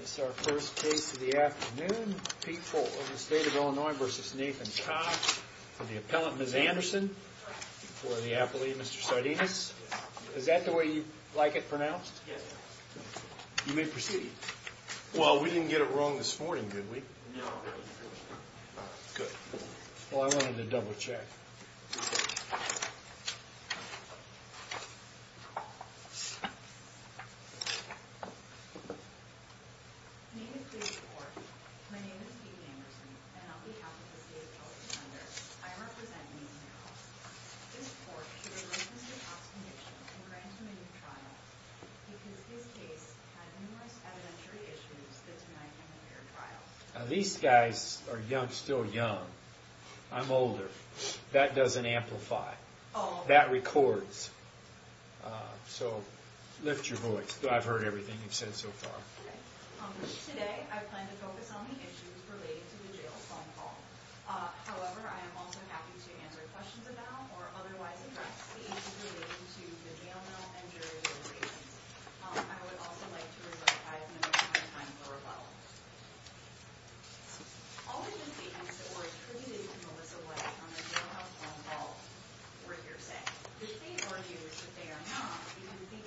This is our first case of the afternoon. Pete Folt of the State of Illinois v. Nathan Cobbs for the appellant, Ms. Anderson, for the appellee, Mr. Sardinis. Is that the way you'd like it pronounced? You may proceed. Well, we didn't get it wrong this morning, did we? No. Good. Well, I wanted to double check. My name is Katie Forge. My name is Katie Anderson. And on behalf of the State Appellate Center, I represent Ms. Nichols. Ms. Forge, she releases your past condition and grants you a new trial because this case had numerous evidentiary issues that tonight can be your trial. Now, these guys are young, still young. I'm older. That doesn't amplify. That records. So lift your voice. I've heard everything you've said so far. Today, I plan to focus on the issues related to the jail phone call. However, I am also happy to answer questions about or otherwise address the issues relating to the jail bell and jury deliberations. I would also like to reflect I have no time for rebuttals. All of the statements that were attributed to Melissa White on the jail house phone call were hearsay. The State argues that they are not. You can see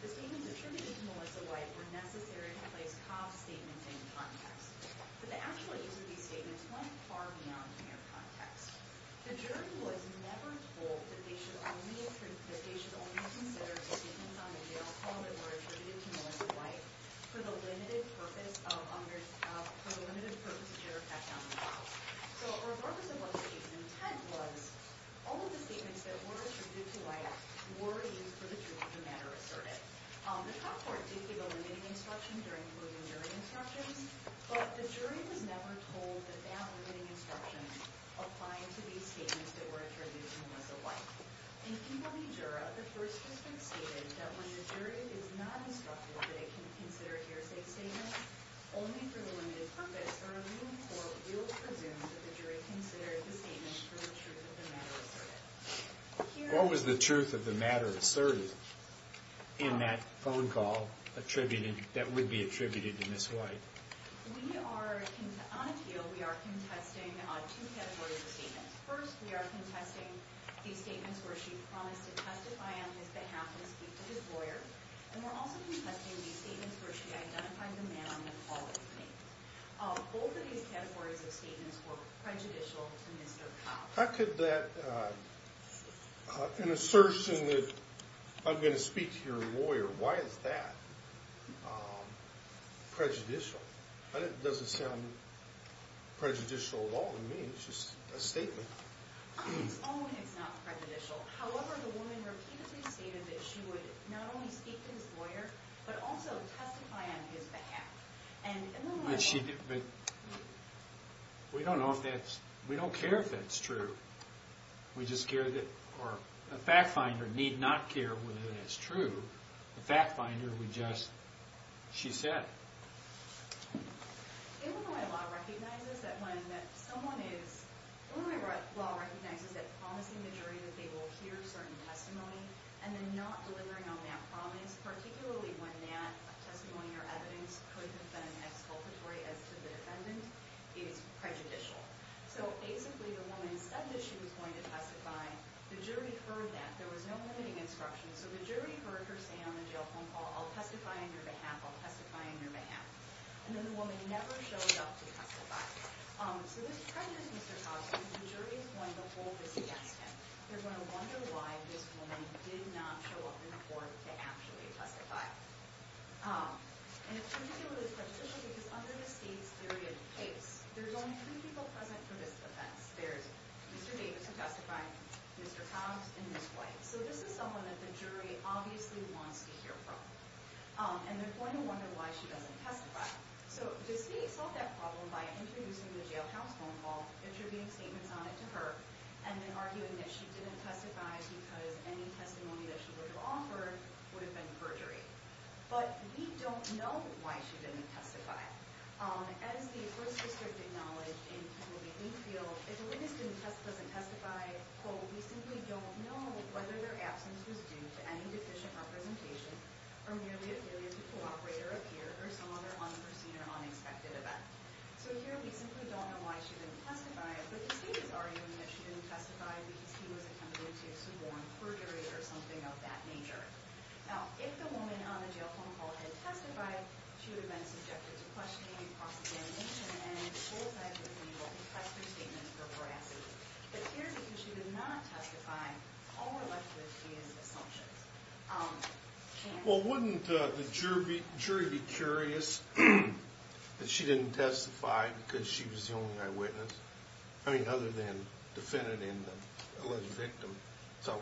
the statements attributed to Melissa White were necessary to place Cobb's statements in context. But the actual use of these statements went far beyond mere context. The jury was never told that they should only consider the statements on the jail phone that were attributed to Melissa White for the limited purpose of jury fact-finding calls. So a reverberance of what the state's intent was, all of the statements that were attributed to White were used for the jury to matter assertive. The trial court did give a limiting instruction during proven jury instructions, but the jury was never told that that limiting instruction applying to these statements that were attributed to Melissa White. In P.W. Jura, the First District stated that when the jury is not instructed that it can consider hearsay statements only for the limited purpose, or a ruling court will presume that the jury considered the statements for the truth of the matter assertive. What was the truth of the matter assertive in that phone call that would be attributed to Miss White? On appeal, we are contesting two categories of statements. First, we are contesting these statements where she promised to testify on his behalf and speak to his lawyer. And we're also contesting these statements where she identified the man on the call as me. Both of these categories of statements were prejudicial to Mr. Cobb. How could that, in assertion that I'm going to speak to your lawyer, why is that prejudicial? It doesn't sound prejudicial at all to me. It's just a statement. On its own, it's not prejudicial. However, the woman repeatedly stated that she would not only speak to his lawyer, but also testify on his behalf. And in the moment... We don't know if that's... we don't care if that's true. We just care that... or the fact finder need not care whether that's true. The fact finder would just... she said. Illinois law recognizes that when someone is... Illinois law recognizes that promising the jury that they will hear certain testimony and then not delivering on that promise, particularly when that testimony or evidence could have been exculpatory as to the defendant, is prejudicial. So basically, the woman said that she was going to testify. The jury heard that. There was no limiting instruction. So the jury heard her say on the jail phone call, I'll testify on your behalf, I'll testify on your behalf. And then the woman never showed up to testify. So this prejudices Mr. Cogsman. The jury is going to hold this against him. They're going to wonder why this woman did not show up in court to actually testify. And it's particularly prejudicial because under the state's theory of case, there's only three people present for this defense. There's Mr. Davis who testified, Mr. Cogs, and Ms. White. So this is someone that the jury obviously wants to hear from. And they're going to wonder why she doesn't testify. So the state solved that problem by introducing the jail house phone call, attributing statements on it to her, and then arguing that she didn't testify because any testimony that she would have offered would have been perjury. But we don't know why she didn't testify. As the first district acknowledged in the field, if a witness doesn't testify, we simply don't know whether their absence was due to any deficient representation or merely a failure to cooperate or appear or some other unforeseen or unexpected event. So here we simply don't know why she didn't testify, but the state is arguing that she didn't testify because he was attempting to suborn perjury or something of that nature. Now, if the woman on the jail phone call had testified, she would have been subjected to questioning and prosecution and would have been qualified to be able to press her statement for veracity. But here, because she did not testify, all we're left with is assumptions. Well, wouldn't the jury be curious that she didn't testify because she was the only eyewitness? I mean, other than defendant and alleged victim. So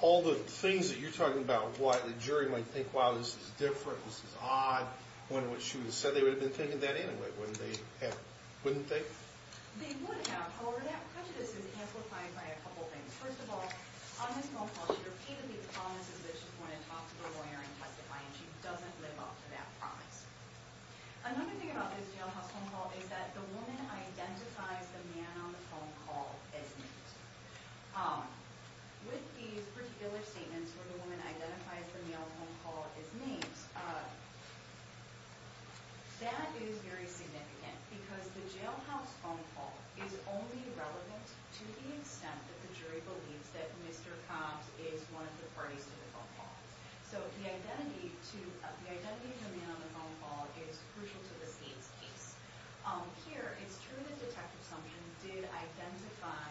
all the things that you're talking about, why the jury might think, wow, this is different, this is odd, when she would have said they would have been taking that anyway, wouldn't they? They would have. However, that prejudice is amplified by a couple of things. First of all, on this phone call, she repeatedly promises that she's going to talk to her lawyer and testify, and she doesn't live up to that promise. Another thing about this jailhouse phone call is that the woman identifies the man on the phone call as Nate. With these particular statements where the woman identifies the male on the phone call as Nate, that is very significant because the jailhouse phone call is only relevant to the extent that the jury believes that Mr. Cobbs is one of the parties to the phone call. So the identity of the man on the phone call is crucial to the state's case. Here, it's true that Detective Sumption did identify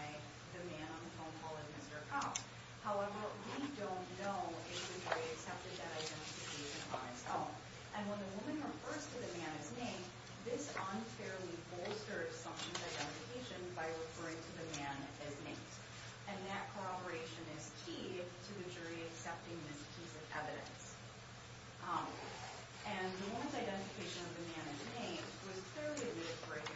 the man on the phone call as Mr. Cobbs. However, we don't know if the jury accepted that identification on its own. And when the woman refers to the man as Nate, this unfairly bolsters Sumption's identification by referring to the man as Nate. And that corroboration is key to the jury accepting this piece of evidence. And the woman's identification of the man as Nate was clearly a misdemeanor.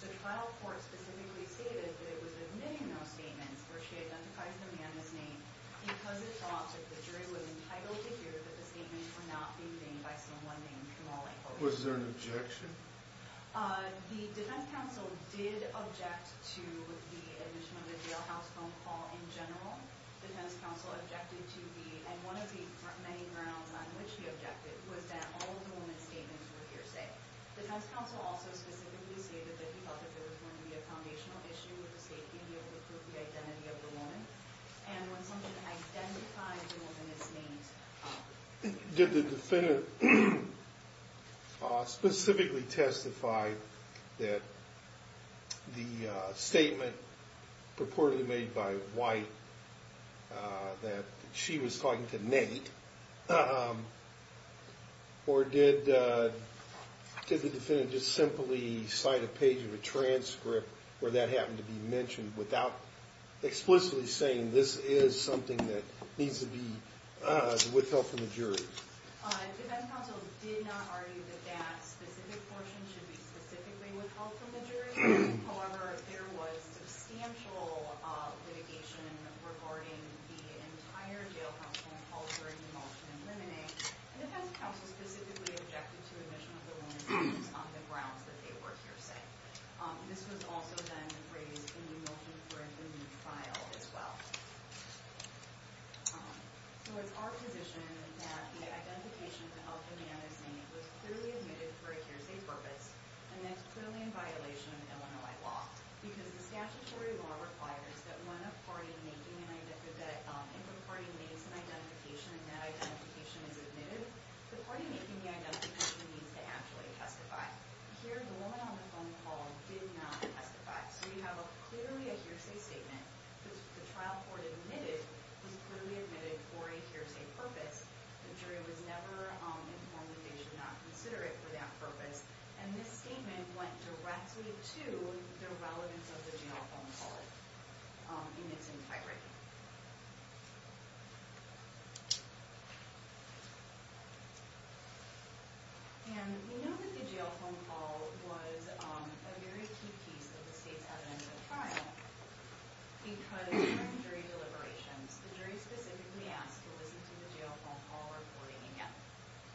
The trial court specifically stated that it was admitting those statements where she identifies the man as Nate because it's thought that the jury was entitled to hear that the statements were not being made by someone named Kamali. Was there an objection? The defense counsel did object to the admission of the jailhouse phone call in general. The defense counsel objected to the, and one of the many grounds on which he objected, was that all of the woman's statements were hearsay. The defense counsel also specifically stated that he felt that there was going to be a foundational issue with the state being able to prove the identity of the woman. And when Sumption identifies the woman as Nate, did the defendant specifically testify that the statement purportedly made by White that she was talking to Nate, or did the defendant just simply cite a page of a transcript where that happened to be mentioned without explicitly saying this is something that needs to be withheld from the jury? The defense counsel did not argue that that specific portion should be specifically withheld from the jury. However, there was substantial litigation regarding the entire jailhouse phone call during the motion of limine. And the defense counsel specifically objected to the admission of the woman's statements on the grounds that they were hearsay. This was also then raised in the motion for a new trial as well. So it's our position that the identification of the man as Nate was clearly admitted for a hearsay purpose, and that's clearly in violation of Illinois law. Because the statutory law requires that if a party makes an identification and that identification is admitted, the party making the identification needs to actually testify. Here, the woman on the phone call did not testify. So you have clearly a hearsay statement that the trial court admitted was clearly admitted for a hearsay purpose. The jury was never informed that they should not consider it for that purpose. And this statement went directly to the relevance of the jail phone call in its entirety. And we know that the jail phone call was a very key piece of the state's evidence of trial. Because during jury deliberations, the jury specifically asked to listen to the jail phone call recording again.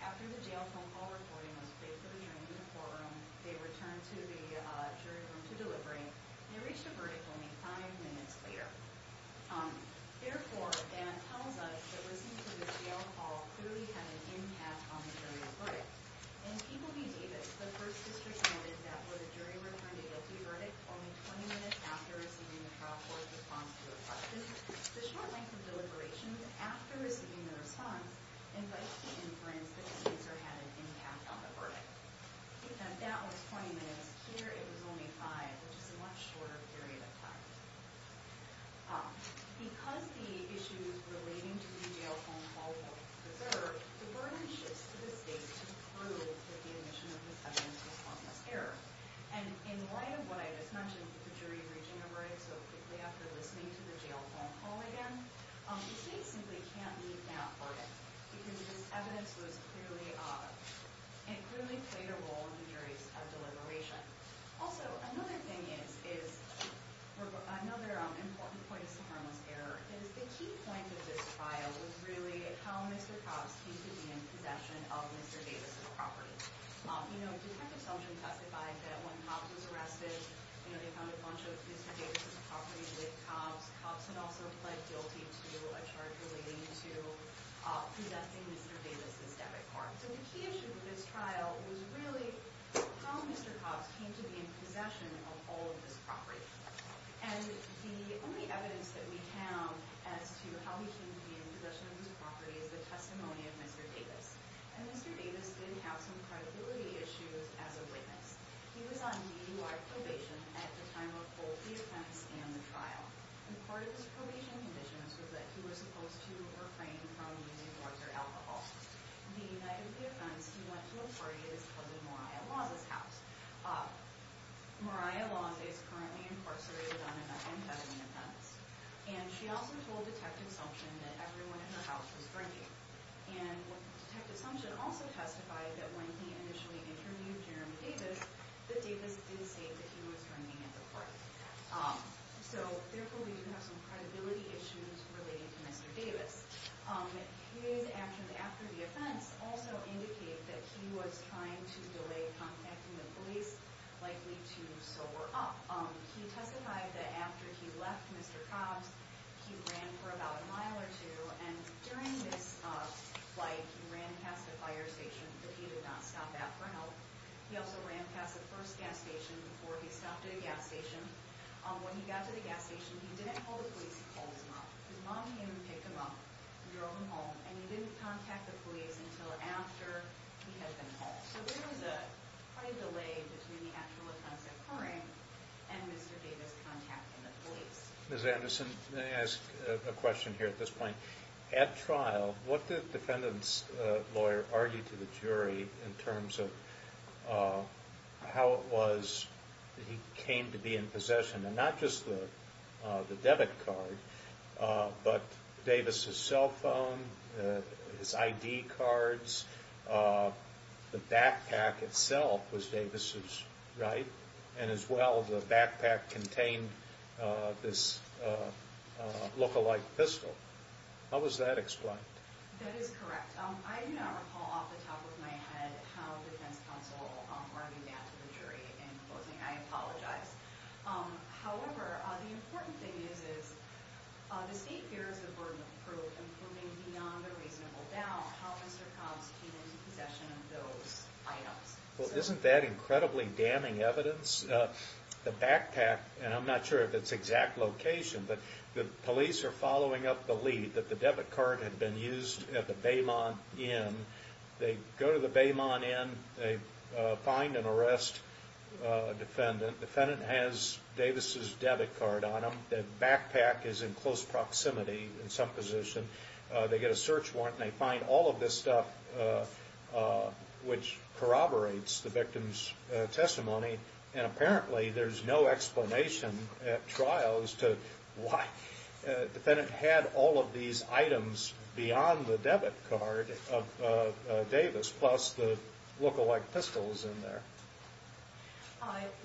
After the jail phone call recording was played for the jury in the courtroom, they returned to the jury room to deliberate. They reached a verdict only five minutes later. Therefore, Dan tells us that listening to the jail phone call clearly had an impact on the jury's verdict. In People v. Davis, the first district noted that where the jury returned a guilty verdict only 20 minutes after receiving the trial court's response to a question, the short length of deliberations after receiving the response invites to inference that the answer had an impact on the verdict. And that was 20 minutes. Here, it was only five, which is a much shorter period of time. Because the issues relating to the jail phone call were preserved, the verdict shifts to the state to prove that the admission of this evidence was harmless error. And in light of what I just mentioned, the jury reaching a verdict so quickly after listening to the jail phone call again, the state simply can't leave now for it. Because this evidence clearly played a role in the jury's deliberation. Also, another thing is, another important point is harmless error. The key point of this trial was really how Mr. Cobbs came to be in possession of Mr. Davis' property. Detective Sumption testified that when Cobbs was arrested, they found a bunch of Mr. Davis' properties with cobs. Cobbs had also pled guilty to a charge relating to possessing Mr. Davis' debit card. So the key issue with this trial was really how Mr. Cobbs came to be in possession of all of this property. And the only evidence that we have as to how he came to be in possession of this property is the testimony of Mr. Davis. And Mr. Davis did have some credibility issues as a witness. He was on DUI probation at the time of both the offense and the trial. And part of his probation conditions was that he was supposed to refrain from using drugs or alcohol. On the night of the offense, he went to a party at his cousin Mariah Laws' house. Mariah Laws is currently incarcerated on an unfeathering offense. And she also told Detective Sumption that everyone at her house was drinking. And Detective Sumption also testified that when he initially interviewed Jeremy Davis, that Davis did say that he was drinking at the party. So therefore, we do have some credibility issues relating to Mr. Davis. His actions after the offense also indicate that he was trying to delay contacting the police, likely to sober up. He testified that after he left Mr. Cobbs, he ran for about a mile or two. And during this flight, he ran past a fire station that he did not stop at for help. He also ran past the first gas station before he stopped at a gas station. When he got to the gas station, he didn't call the police. He called his mom. His mom came and picked him up and drove him home. And he didn't contact the police until after he had been called. So there was quite a delay between the actual offense occurring and Mr. Davis contacting the police. Mr. Anderson, may I ask a question here at this point? At trial, what did the defendant's lawyer argue to the jury in terms of how it was that he came to be in possession? And not just the debit card, but Davis' cell phone, his ID cards, the backpack itself was Davis', right? And as well, the backpack contained this look-alike pistol. How was that explained? That is correct. I do not recall off the top of my head how the defense counsel argued that to the jury. In closing, I apologize. However, the important thing is, is the state fears a burden of proof and proving beyond a reasonable doubt how Mr. Cobbs came into possession of those items. Well, isn't that incredibly damning evidence? The backpack, and I'm not sure if it's exact location, but the police are following up the lead that the debit card had been used at the Baymont Inn. They go to the Baymont Inn. They find an arrest defendant. The defendant has Davis' debit card on him. The backpack is in close proximity in some position. They get a search warrant, and they find all of this stuff which corroborates the victim's testimony. And apparently, there's no explanation at trials to why the defendant had all of these items beyond the debit card of Davis, plus the look-alike pistols in there.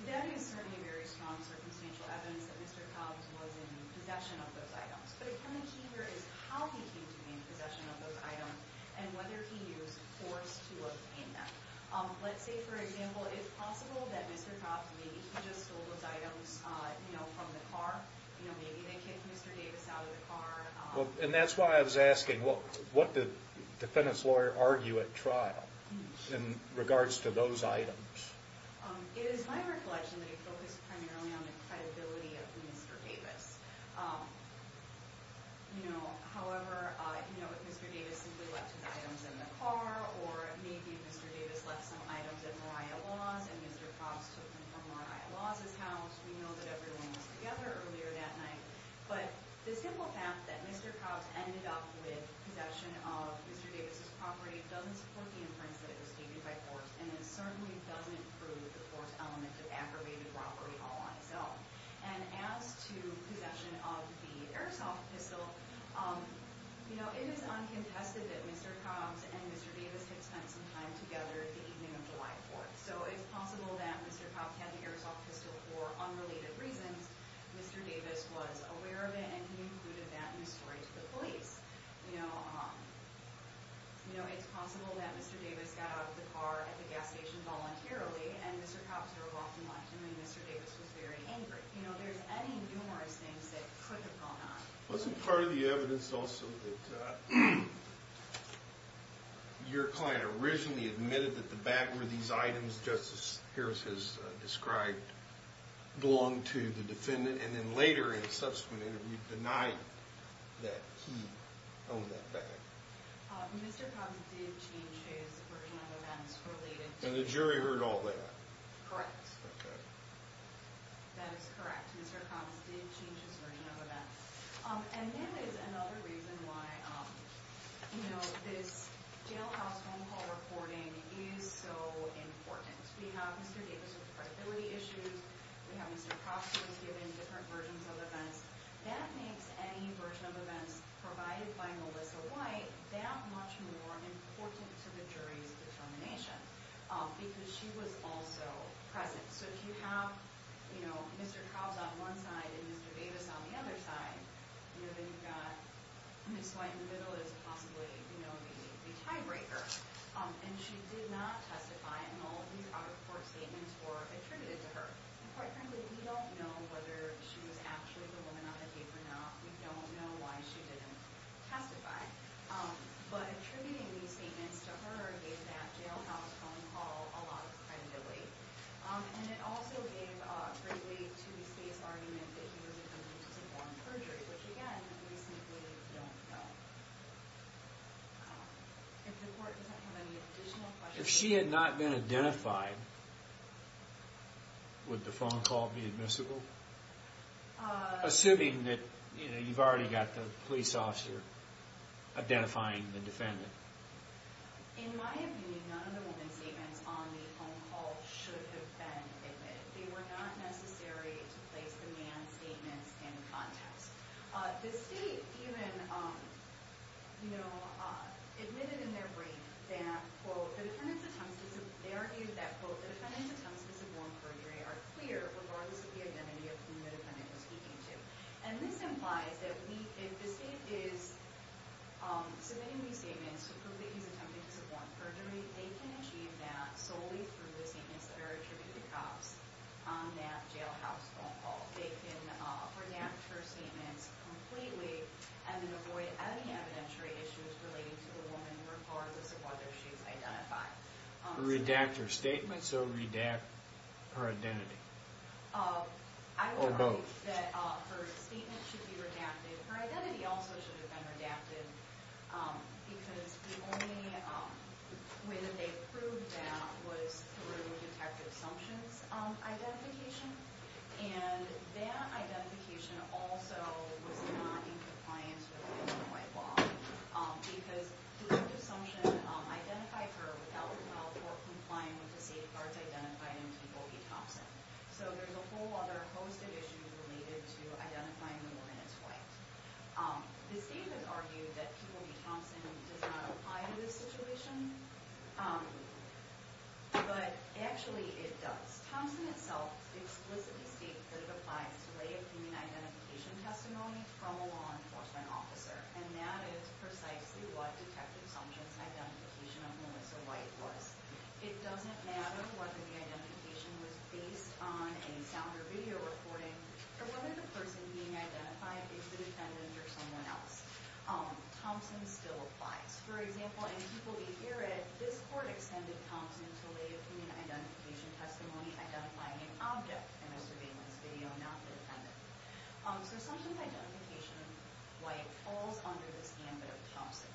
That is certainly very strong circumstantial evidence that Mr. Cobbs was in possession of those items. But again, the key here is how he came to be in possession of those items and whether he used force to obtain them. Let's say, for example, it's possible that Mr. Cobbs, maybe he just stole those items from the car. Maybe they kicked Mr. Davis out of the car. And that's why I was asking, what did the defendant's lawyer argue at trial in regards to those items? It is my recollection that he focused primarily on the credibility of Mr. Davis. However, if Mr. Davis simply left his items in the car, or maybe Mr. Davis left some items at Mariah Laws and Mr. Cobbs took them from Mariah Laws' house, we know that everyone was together earlier that night. But the simple fact that Mr. Cobbs ended up with possession of Mr. Davis' property doesn't support the inference that it was taken by force, and it certainly doesn't prove the force element of aggravated robbery all on its own. And as to possession of the airsoft pistol, it is uncontested that Mr. Cobbs and Mr. Davis had spent some time together the evening of July 4th. So it's possible that Mr. Cobbs had the airsoft pistol for unrelated reasons. Mr. Davis was aware of it, and he included that in his story to the police. You know, it's possible that Mr. Davis got out of the car at the gas station voluntarily, and Mr. Cobbs drove off and left him, and Mr. Davis was very angry. You know, there's any numerous things that could have gone on. Wasn't part of the evidence also that your client originally admitted that the back of these items Justice Harris has described belonged to the defendant, and then later in a subsequent interview denied that he owned that bag? Mr. Cobbs did change his version of events related to— And the jury heard all that? Correct. Okay. That is correct. Mr. Cobbs did change his version of events. And that is another reason why, you know, this jailhouse phone call reporting is so important. We have Mr. Davis with credibility issues. We have Mr. Cross who was given different versions of events. That makes any version of events provided by Melissa White that much more important to the jury's determination, because she was also present. So if you have, you know, Mr. Cobbs on one side and Mr. Davis on the other side, you know, then you've got Miss White in the middle as possibly, you know, the tiebreaker. And she did not testify, and all these other court statements were attributed to her. And quite frankly, we don't know whether she was actually the woman on the tape or not. We don't know why she didn't testify. But attributing these statements to her gave that jailhouse phone call a lot of credibility. And it also gave a great way to say his argument that he was attempting to perform perjury, which, again, we simply don't know. If the court doesn't have any additional questions. If she had not been identified, would the phone call be admissible? Assuming that, you know, you've already got the police officer identifying the defendant. In my opinion, none of the woman's statements on the phone call should have been admitted. They were not necessary to place the man's statements in context. The state even, you know, admitted in their brief that, quote, they argued that, quote, the defendant's attempts to suborn perjury are clear regardless of the identity of whom the defendant was speaking to. And this implies that if the state is submitting these statements to prove that he's attempting to suborn perjury, they can achieve that solely through the statements that are attributed to cops on that jailhouse phone call. They can redact her statements completely and then avoid any evidentiary issues relating to the woman regardless of whether she's identified. Redact her statements or redact her identity? Or both. I would argue that her statement should be redacted. Her identity also should have been redacted because the only way that they proved that was through detective assumptions identification. And that identification also was not in compliance with any white law because detective assumption identified her without, well, or complying with the safeguards identified in Peeble v. Thompson. So there's a whole other host of issues related to identifying the woman as white. The state has argued that Peeble v. Thompson does not apply to this situation. But actually, it does. Thompson itself explicitly states that it applies to lay opinion identification testimony from a law enforcement officer. And that is precisely what detective assumptions identification of Melissa White was. It doesn't matter whether the identification was based on a sound or video recording or whether the person being identified is the defendant or someone else. Thompson still applies. For example, in Peeble v. Garrett, this court extended Thompson to lay opinion identification testimony identifying an object in a surveillance video, not the defendant. So assumptions identification of White falls under this gambit of Thompson.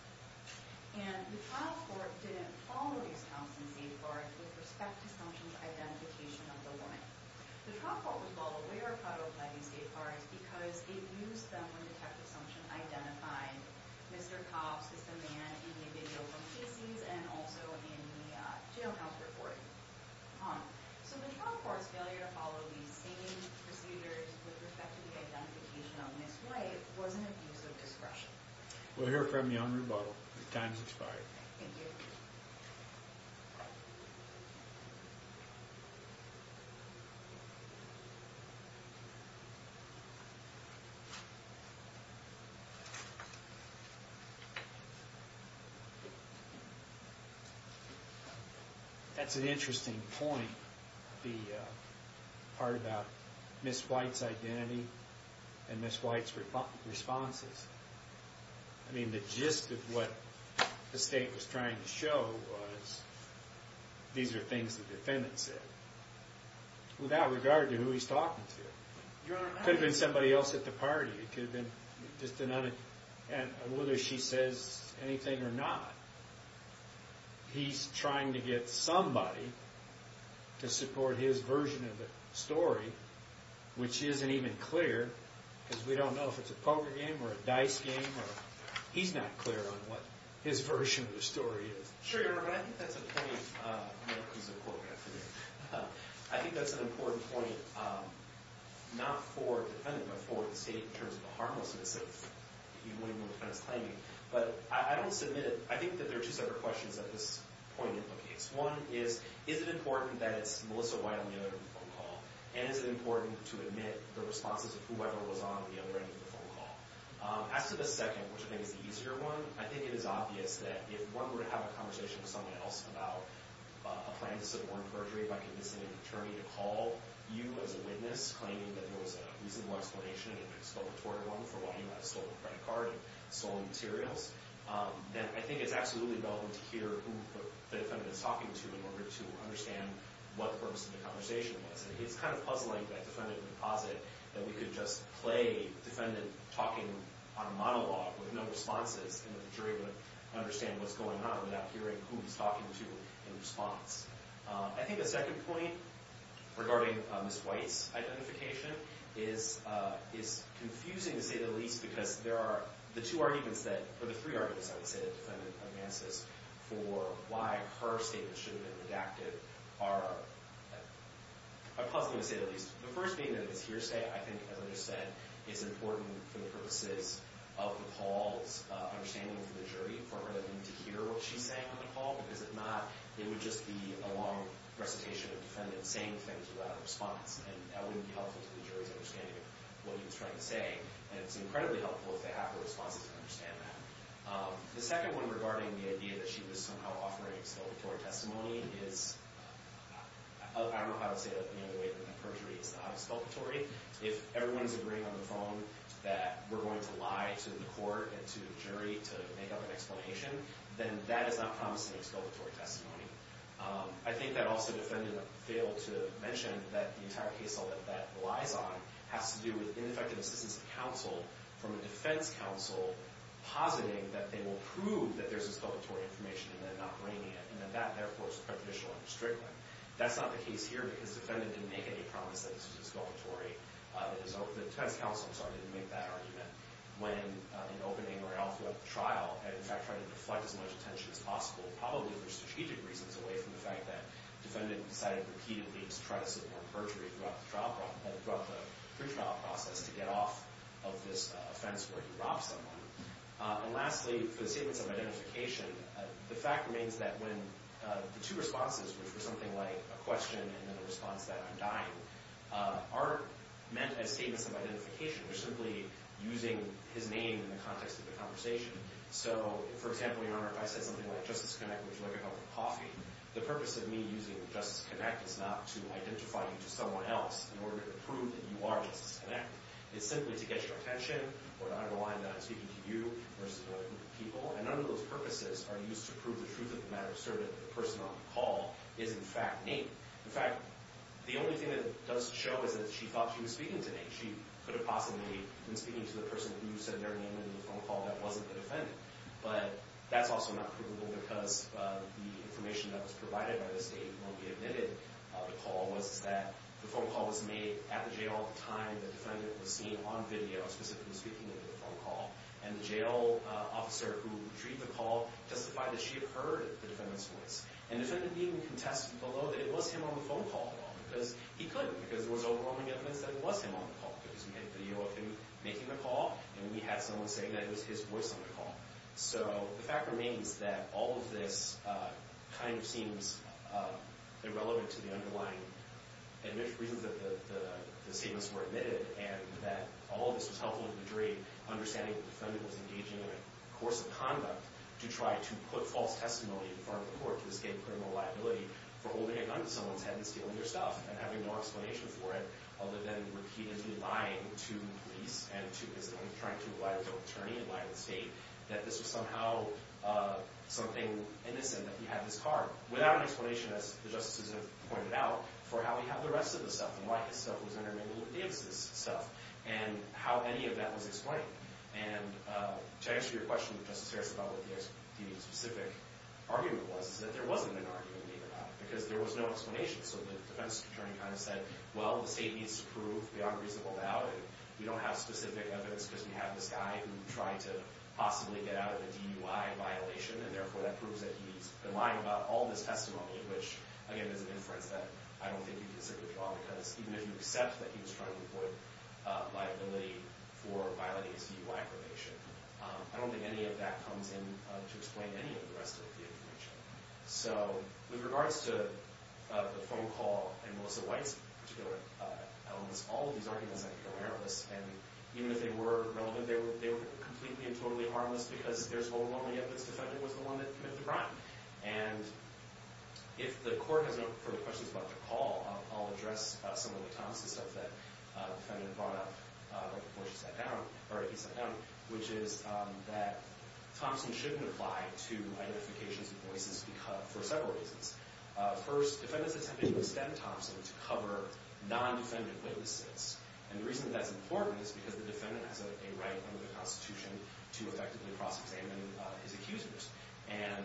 And the trial court didn't follow these Thompson safeguards with respect to assumptions identification of the woman. The trial court was well aware of how to apply these safeguards because it used them when detective assumption identified Mr. Copps, this man, in the video from Casey's and also in the jailhouse recording. So the trial court's failure to follow these same procedures with respect to the identification of Ms. White was an abuse of discretion. We'll hear from you on rebuttal. The time has expired. Thank you. That's an interesting point, the part about Ms. White's identity and Ms. White's responses. I mean, the gist of what the state was trying to show was these are things the defendant said without regard to who he's talking to. Your Honor, it could have been somebody else at the party. It could have been just another, and whether she says anything or not, he's trying to get somebody to support his version of the story, which isn't even clear because we don't know if it's a poker game or a dice game or he's not clear on what his version of the story is. Sure, Your Honor, and I think that's a point, I think that's an important point, not for the defendant, but for the state in terms of the harmlessness of what the defendant's claiming. But I don't submit it. I think that there are two separate questions that this point implicates. One is, is it important that it's Melissa White on the other end of the phone call? And is it important to admit the responses of whoever was on the other end of the phone call? As to the second, which I think is the easier one, I think it is obvious that if one were to have a conversation with someone else about a plan to suborn perjury by convincing an attorney to call you as a witness, claiming that there was a reasonable explanation, an exploratory one, for why you had a stolen credit card and stolen materials, then I think it's absolutely relevant to hear who the defendant is talking to in order to understand what the purpose of the conversation was. It's kind of puzzling that defendant would posit that we could just play a defendant talking on a monologue with no responses and that the jury would understand what's going on without hearing who he's talking to in response. I think the second point regarding Ms. White's identification is confusing to say the least because there are the two arguments that, or the three arguments, I would say, that the defendant advances for why her statement should have been redacted are puzzling to say the least. The first being that this hearsay, I think, as I just said, is important for the purposes of the Paul's understanding of the jury for her to hear what she's saying on the call because if not, it would just be a long recitation of the defendant saying things without a response and that wouldn't be helpful to the jury's understanding of what he was trying to say and it's incredibly helpful if they have the responses to understand that. The second one regarding the idea that she was somehow offering exploratory testimony is, I don't know if I would say that in the way that perjury is not exploratory. If everyone's agreeing on the phone that we're going to lie to the court and to the jury to make up an explanation, then that is not promising exploratory testimony. I think that also the defendant failed to mention that the entire case that relies on has to do with ineffective assistance to counsel from a defense counsel positing that they will prove that there's exploratory information and that they're not bringing it and that that, therefore, is prejudicial and restrictive. That's not the case here because the defendant didn't make any promises that it was exploratory. The defense counsel, I'm sorry, didn't make that argument when in opening or after the trial and, in fact, trying to deflect as much attention as possible, probably for strategic reasons away from the fact that the defendant decided repeatedly to try to support perjury throughout the pretrial process to get off of this offense where he robbed someone. And lastly, for the statements of identification, the fact remains that when the two responses, which were something like a question and then a response that I'm dying, aren't meant as statements of identification. They're simply using his name in the context of the conversation. So, for example, Your Honor, if I said something like, Justice Connect, would you like a cup of coffee? The purpose of me using Justice Connect is not to identify you to someone else in order to prove that you are Justice Connect. It's simply to get your attention or to underline that I'm speaking to you versus other people, and none of those purposes are used to prove the truth of the matter asserted that the person on the call is, in fact, Nate. In fact, the only thing that it does show is that she thought she was speaking to Nate. She could have possibly been speaking to the person who said their name in the phone call that wasn't the defendant. But that's also not provable because the information that was provided by the state when we admitted the call was that the phone call was made at the jail at the time the defendant was seen on video specifically speaking over the phone call. And the jail officer who retrieved the call testified that she had heard the defendant's voice. And the defendant didn't even contest below that it was him on the phone call at all because he couldn't because there was overwhelming evidence that it was him on the call because we had video of him making the call, and we had someone saying that it was his voice on the call. So the fact remains that all of this kind of seems irrelevant to the underlying reasons that the statements were admitted and that all of this was helpful to the jury understanding that the defendant was engaging in a course of conduct to try to put false testimony in front of the court to escape criminal liability for holding a gun to someone's head and stealing their stuff and having no explanation for it other than repeatedly lying to police and trying to lie to the attorney and lying to the state that this was somehow something innocent, that he had this car. Without an explanation, as the justices have pointed out, for how he had the rest of the stuff and why his stuff was in there, maybe Luke Davis' stuff, and how any of that was explained. And to answer your question, Justice Harris, about what the specific argument was is that there wasn't an argument made about it because there was no explanation. So the defense attorney kind of said, well, the state needs to prove the unreasonable doubt and we don't have specific evidence because we have this guy who tried to possibly get out of a DUI violation and therefore that proves that he's been lying about all this testimony, which, again, is an inference that I don't think you can certainly draw because even if you accept that he was trying to avoid liability for violating his DUI probation, I don't think any of that comes in to explain any of the rest of the information. So with regards to the phone call and Melissa White's particular elements, all of these arguments I think are errorless. And even if they were relevant, they were completely and totally harmless because there's overwhelming evidence that Thompson was the one that committed the crime. And if the court has no further questions about the call, I'll address some of the Thomson stuff that the defendant brought up before he sat down, which is that Thompson shouldn't apply to identifications and voices for several reasons. First, defendants attempted to extend Thompson to cover non-defendant witnesses. And the reason that's important is because the defendant has a right under the Constitution to effectively cross-examine his accusers. And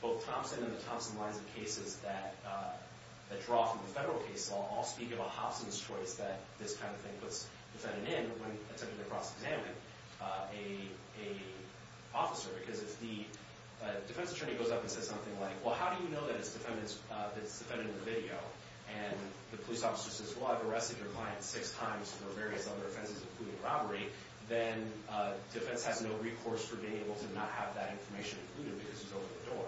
both Thompson and the Thompson lines of cases that draw from the federal case law all speak of a Hobson's choice that this kind of thing puts the defendant in when attempting to cross-examine an officer. Because if the defense attorney goes up and says something like, well, how do you know that it's the defendant in the video? And the police officer says, well, I've arrested your client six times for various other offenses, including robbery, then defense has no recourse for being able to not have that information included because he's over the door.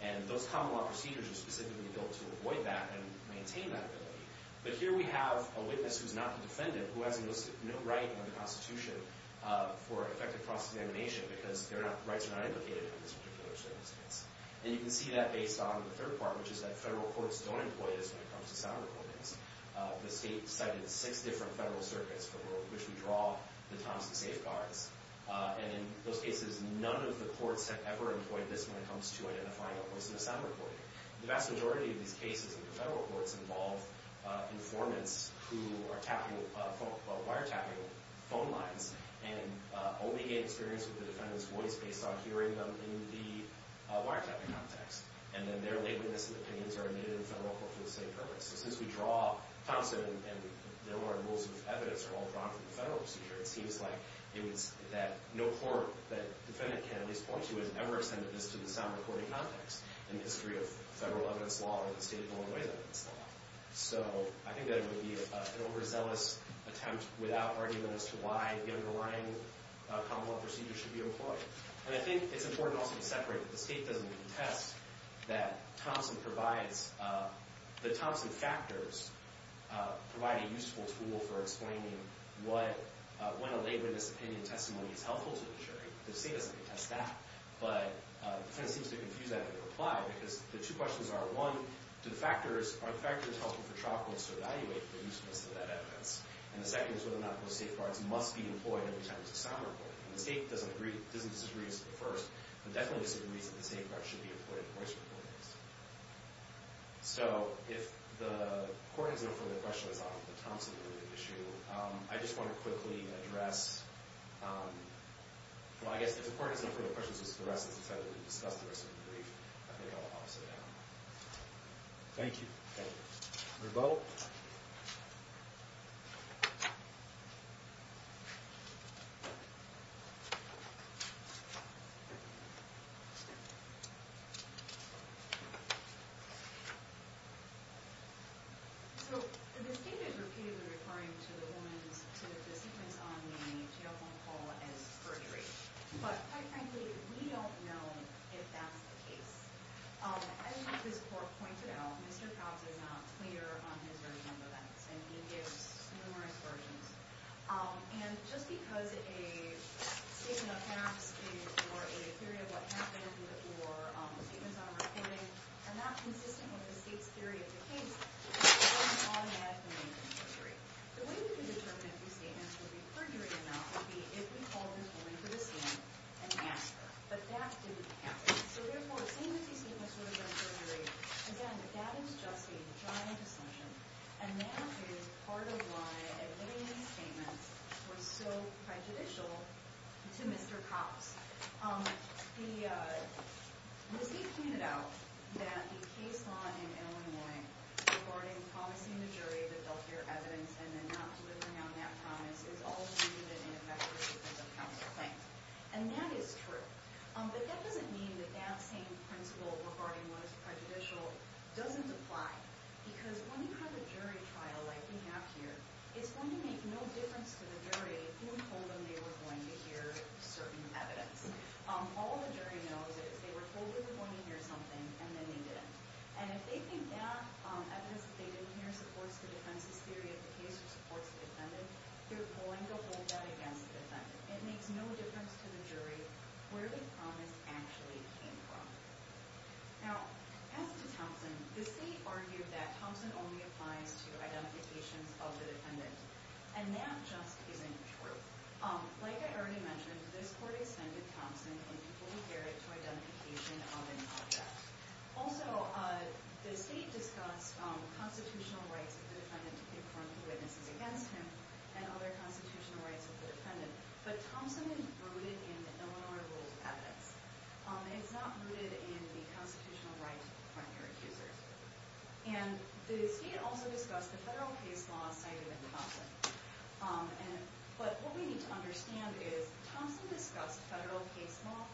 And those common law procedures are specifically built to avoid that and maintain that ability. But here we have a witness who's not the defendant, who has no right under the Constitution for effective cross-examination because rights are not indicated in this particular circumstance. And you can see that based on the third part, which is that federal courts don't employ this when it comes to sound recordings. The state cited six different federal circuits for which we draw the Thompson safeguards. And in those cases, none of the courts have ever employed this when it comes to identifying a Hobson as sound recording. The vast majority of these cases in the federal courts involve informants who are wiretapping phone lines and only gain experience with the defendant's voice based on hearing them in the wiretapping context. And then their laborious opinions are admitted in federal court for the same purpose. So since we draw Thompson and there were rules of evidence are all drawn from the federal procedure, it seems like it was that no court that defendant can at least point to has ever ascended this to the sound recording context in the history of federal evidence law or the state of Illinois' evidence law. So I think that it would be an overzealous attempt without argument as to why the underlying common law procedure should be employed. And I think it's important also to separate that the state doesn't contest that the Thompson factors provide a useful tool for explaining when a laborious opinion testimony is helpful to the jury. The state doesn't contest that. But it kind of seems to confuse that with a reply because the two questions are, one, are the factors helpful for trial courts to evaluate the usefulness of that evidence? And the second is whether or not those safeguards must be employed every time there's a sound recording. And the state doesn't disagree as to the first, but definitely disagrees that the safeguards should be employed in the voice recordings. So if the court has no further questions on the Thompson related issue, I just want to quickly address... Well, I guess if the court has no further questions, just the rest of us decided to discuss the rest of the brief, I think I'll sit down. Thank you. Thank you. Rebuttal. So the statement repeatedly referring to the woman's, to the sentence on the telephone call as perjury. But quite frankly, we don't know if that's the case. As this court pointed out, Mr. Krause is not clear on his version of events, and he gives numerous versions. And just because a statement of facts or a theory of what happened or statements on a recording are not consistent with the state's theory of the case, doesn't automatically make them perjury. The way we can determine if these statements would be perjury or not would be if we called this woman to the scene and asked her. But that didn't happen. So, therefore, seeing that these statements were not perjury, again, that is just a giant assumption. And that is part of why a million statements were so prejudicial to Mr. Krause. The receipt pointed out that the case law in Illinois regarding promising the jury that they'll hear evidence and then not delivering on that promise is all due to the ineffectiveness of counsel claims. And that is true. But that doesn't mean that that same principle regarding what is prejudicial doesn't apply. Because when you have a jury trial like we have here, it's going to make no difference to the jury who told them they were going to hear certain evidence. All the jury knows is they were told they were going to hear something, and then they didn't. And if they think that evidence that they didn't hear supports the defense's theory of the case or supports the defendant, they're going to hold that against the defendant. It makes no difference to the jury where the promise actually came from. Now, as to Thompson, the state argued that Thompson only applies to identifications of the defendant. And that just isn't true. Like I already mentioned, this court extended Thompson and people who hear it to identification of an object. Also, the state discussed constitutional rights of the defendant to conform to witnesses against him and other constitutional rights of the defendant. But Thompson is rooted in Illinois rules of evidence. It's not rooted in the constitutional rights of the primary accusers. And the state also discussed the federal case law cited in Thompson. But what we need to understand is Thompson discussed federal case law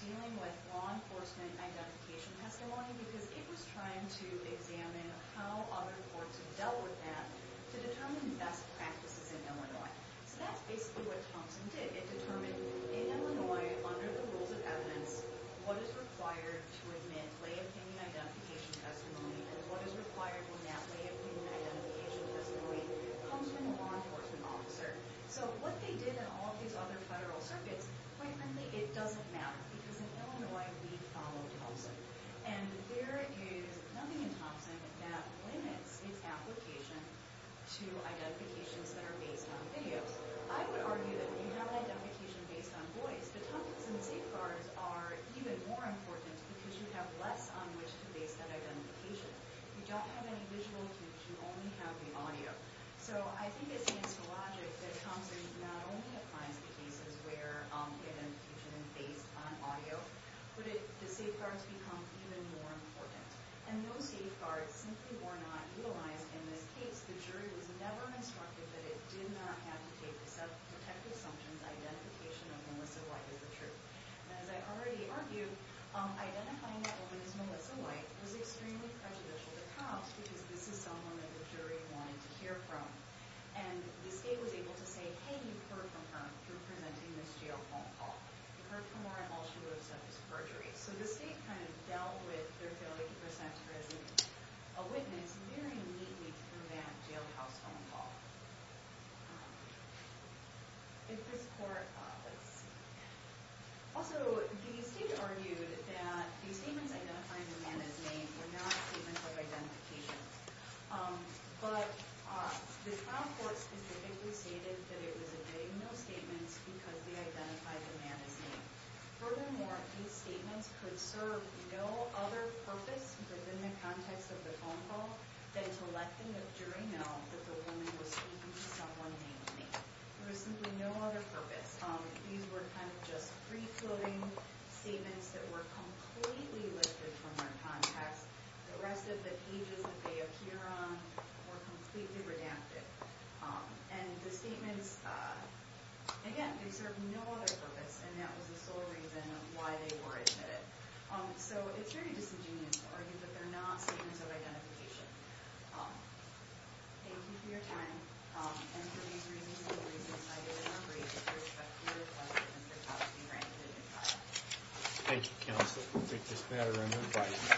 dealing with law enforcement identification testimony because it was trying to examine how other courts have dealt with that to determine best practices in Illinois. So that's basically what Thompson did. It determined in Illinois, under the rules of evidence, what is required to admit lay opinion identification testimony and what is required when that lay opinion identification testimony comes from a law enforcement officer. So what they did in all these other federal circuits, quite frankly, it doesn't matter because in Illinois, we follow Thompson. And there is nothing in Thompson that limits its application to identifications that are based on videos. I would argue that if you have an identification based on voice, the Thompson safeguards are even more important because you have less on which to base that identification. You don't have any visual cues. You only have the audio. So I think it stands to logic that Thompson not only applies the cases where identification is based on audio, but the safeguards become even more important. And those safeguards simply were not utilized in this case. The jury was never instructed that it did not have to take the self-protective assumptions identification of Melissa White as the truth. And as I already argued, identifying that woman as Melissa White was extremely prejudicial to cops because this is someone that the jury wanted to hear from. And the state was able to say, hey, you've heard from her through presenting this jail phone call. You've heard from her in all she would have said was perjury. So the state kind of dealt with their failure to present her as a witness very neatly through that jail house phone call. Also, the state argued that the statements identifying the man as name were not statements of identification. But the trial court specifically stated that it was admitting no statements because they identified the man as name. Furthermore, these statements could serve no other purpose within the context of the phone call than to let the jury know that the woman was speaking to someone namely. There was simply no other purpose. These were kind of just free-floating statements that were completely lifted from their context. The rest of the pages that they appear on were completely redacted. And the statements, again, they served no other purpose and that was the sole reason of why they were admitted. So it's very disingenuous to argue that they're not statements of identification. Thank you for your time. And for these reasons and the reasons cited, I'm afraid that there is a clear question as to how to be ranked in the trial. Thank you, counsel. We'll take this matter under advice.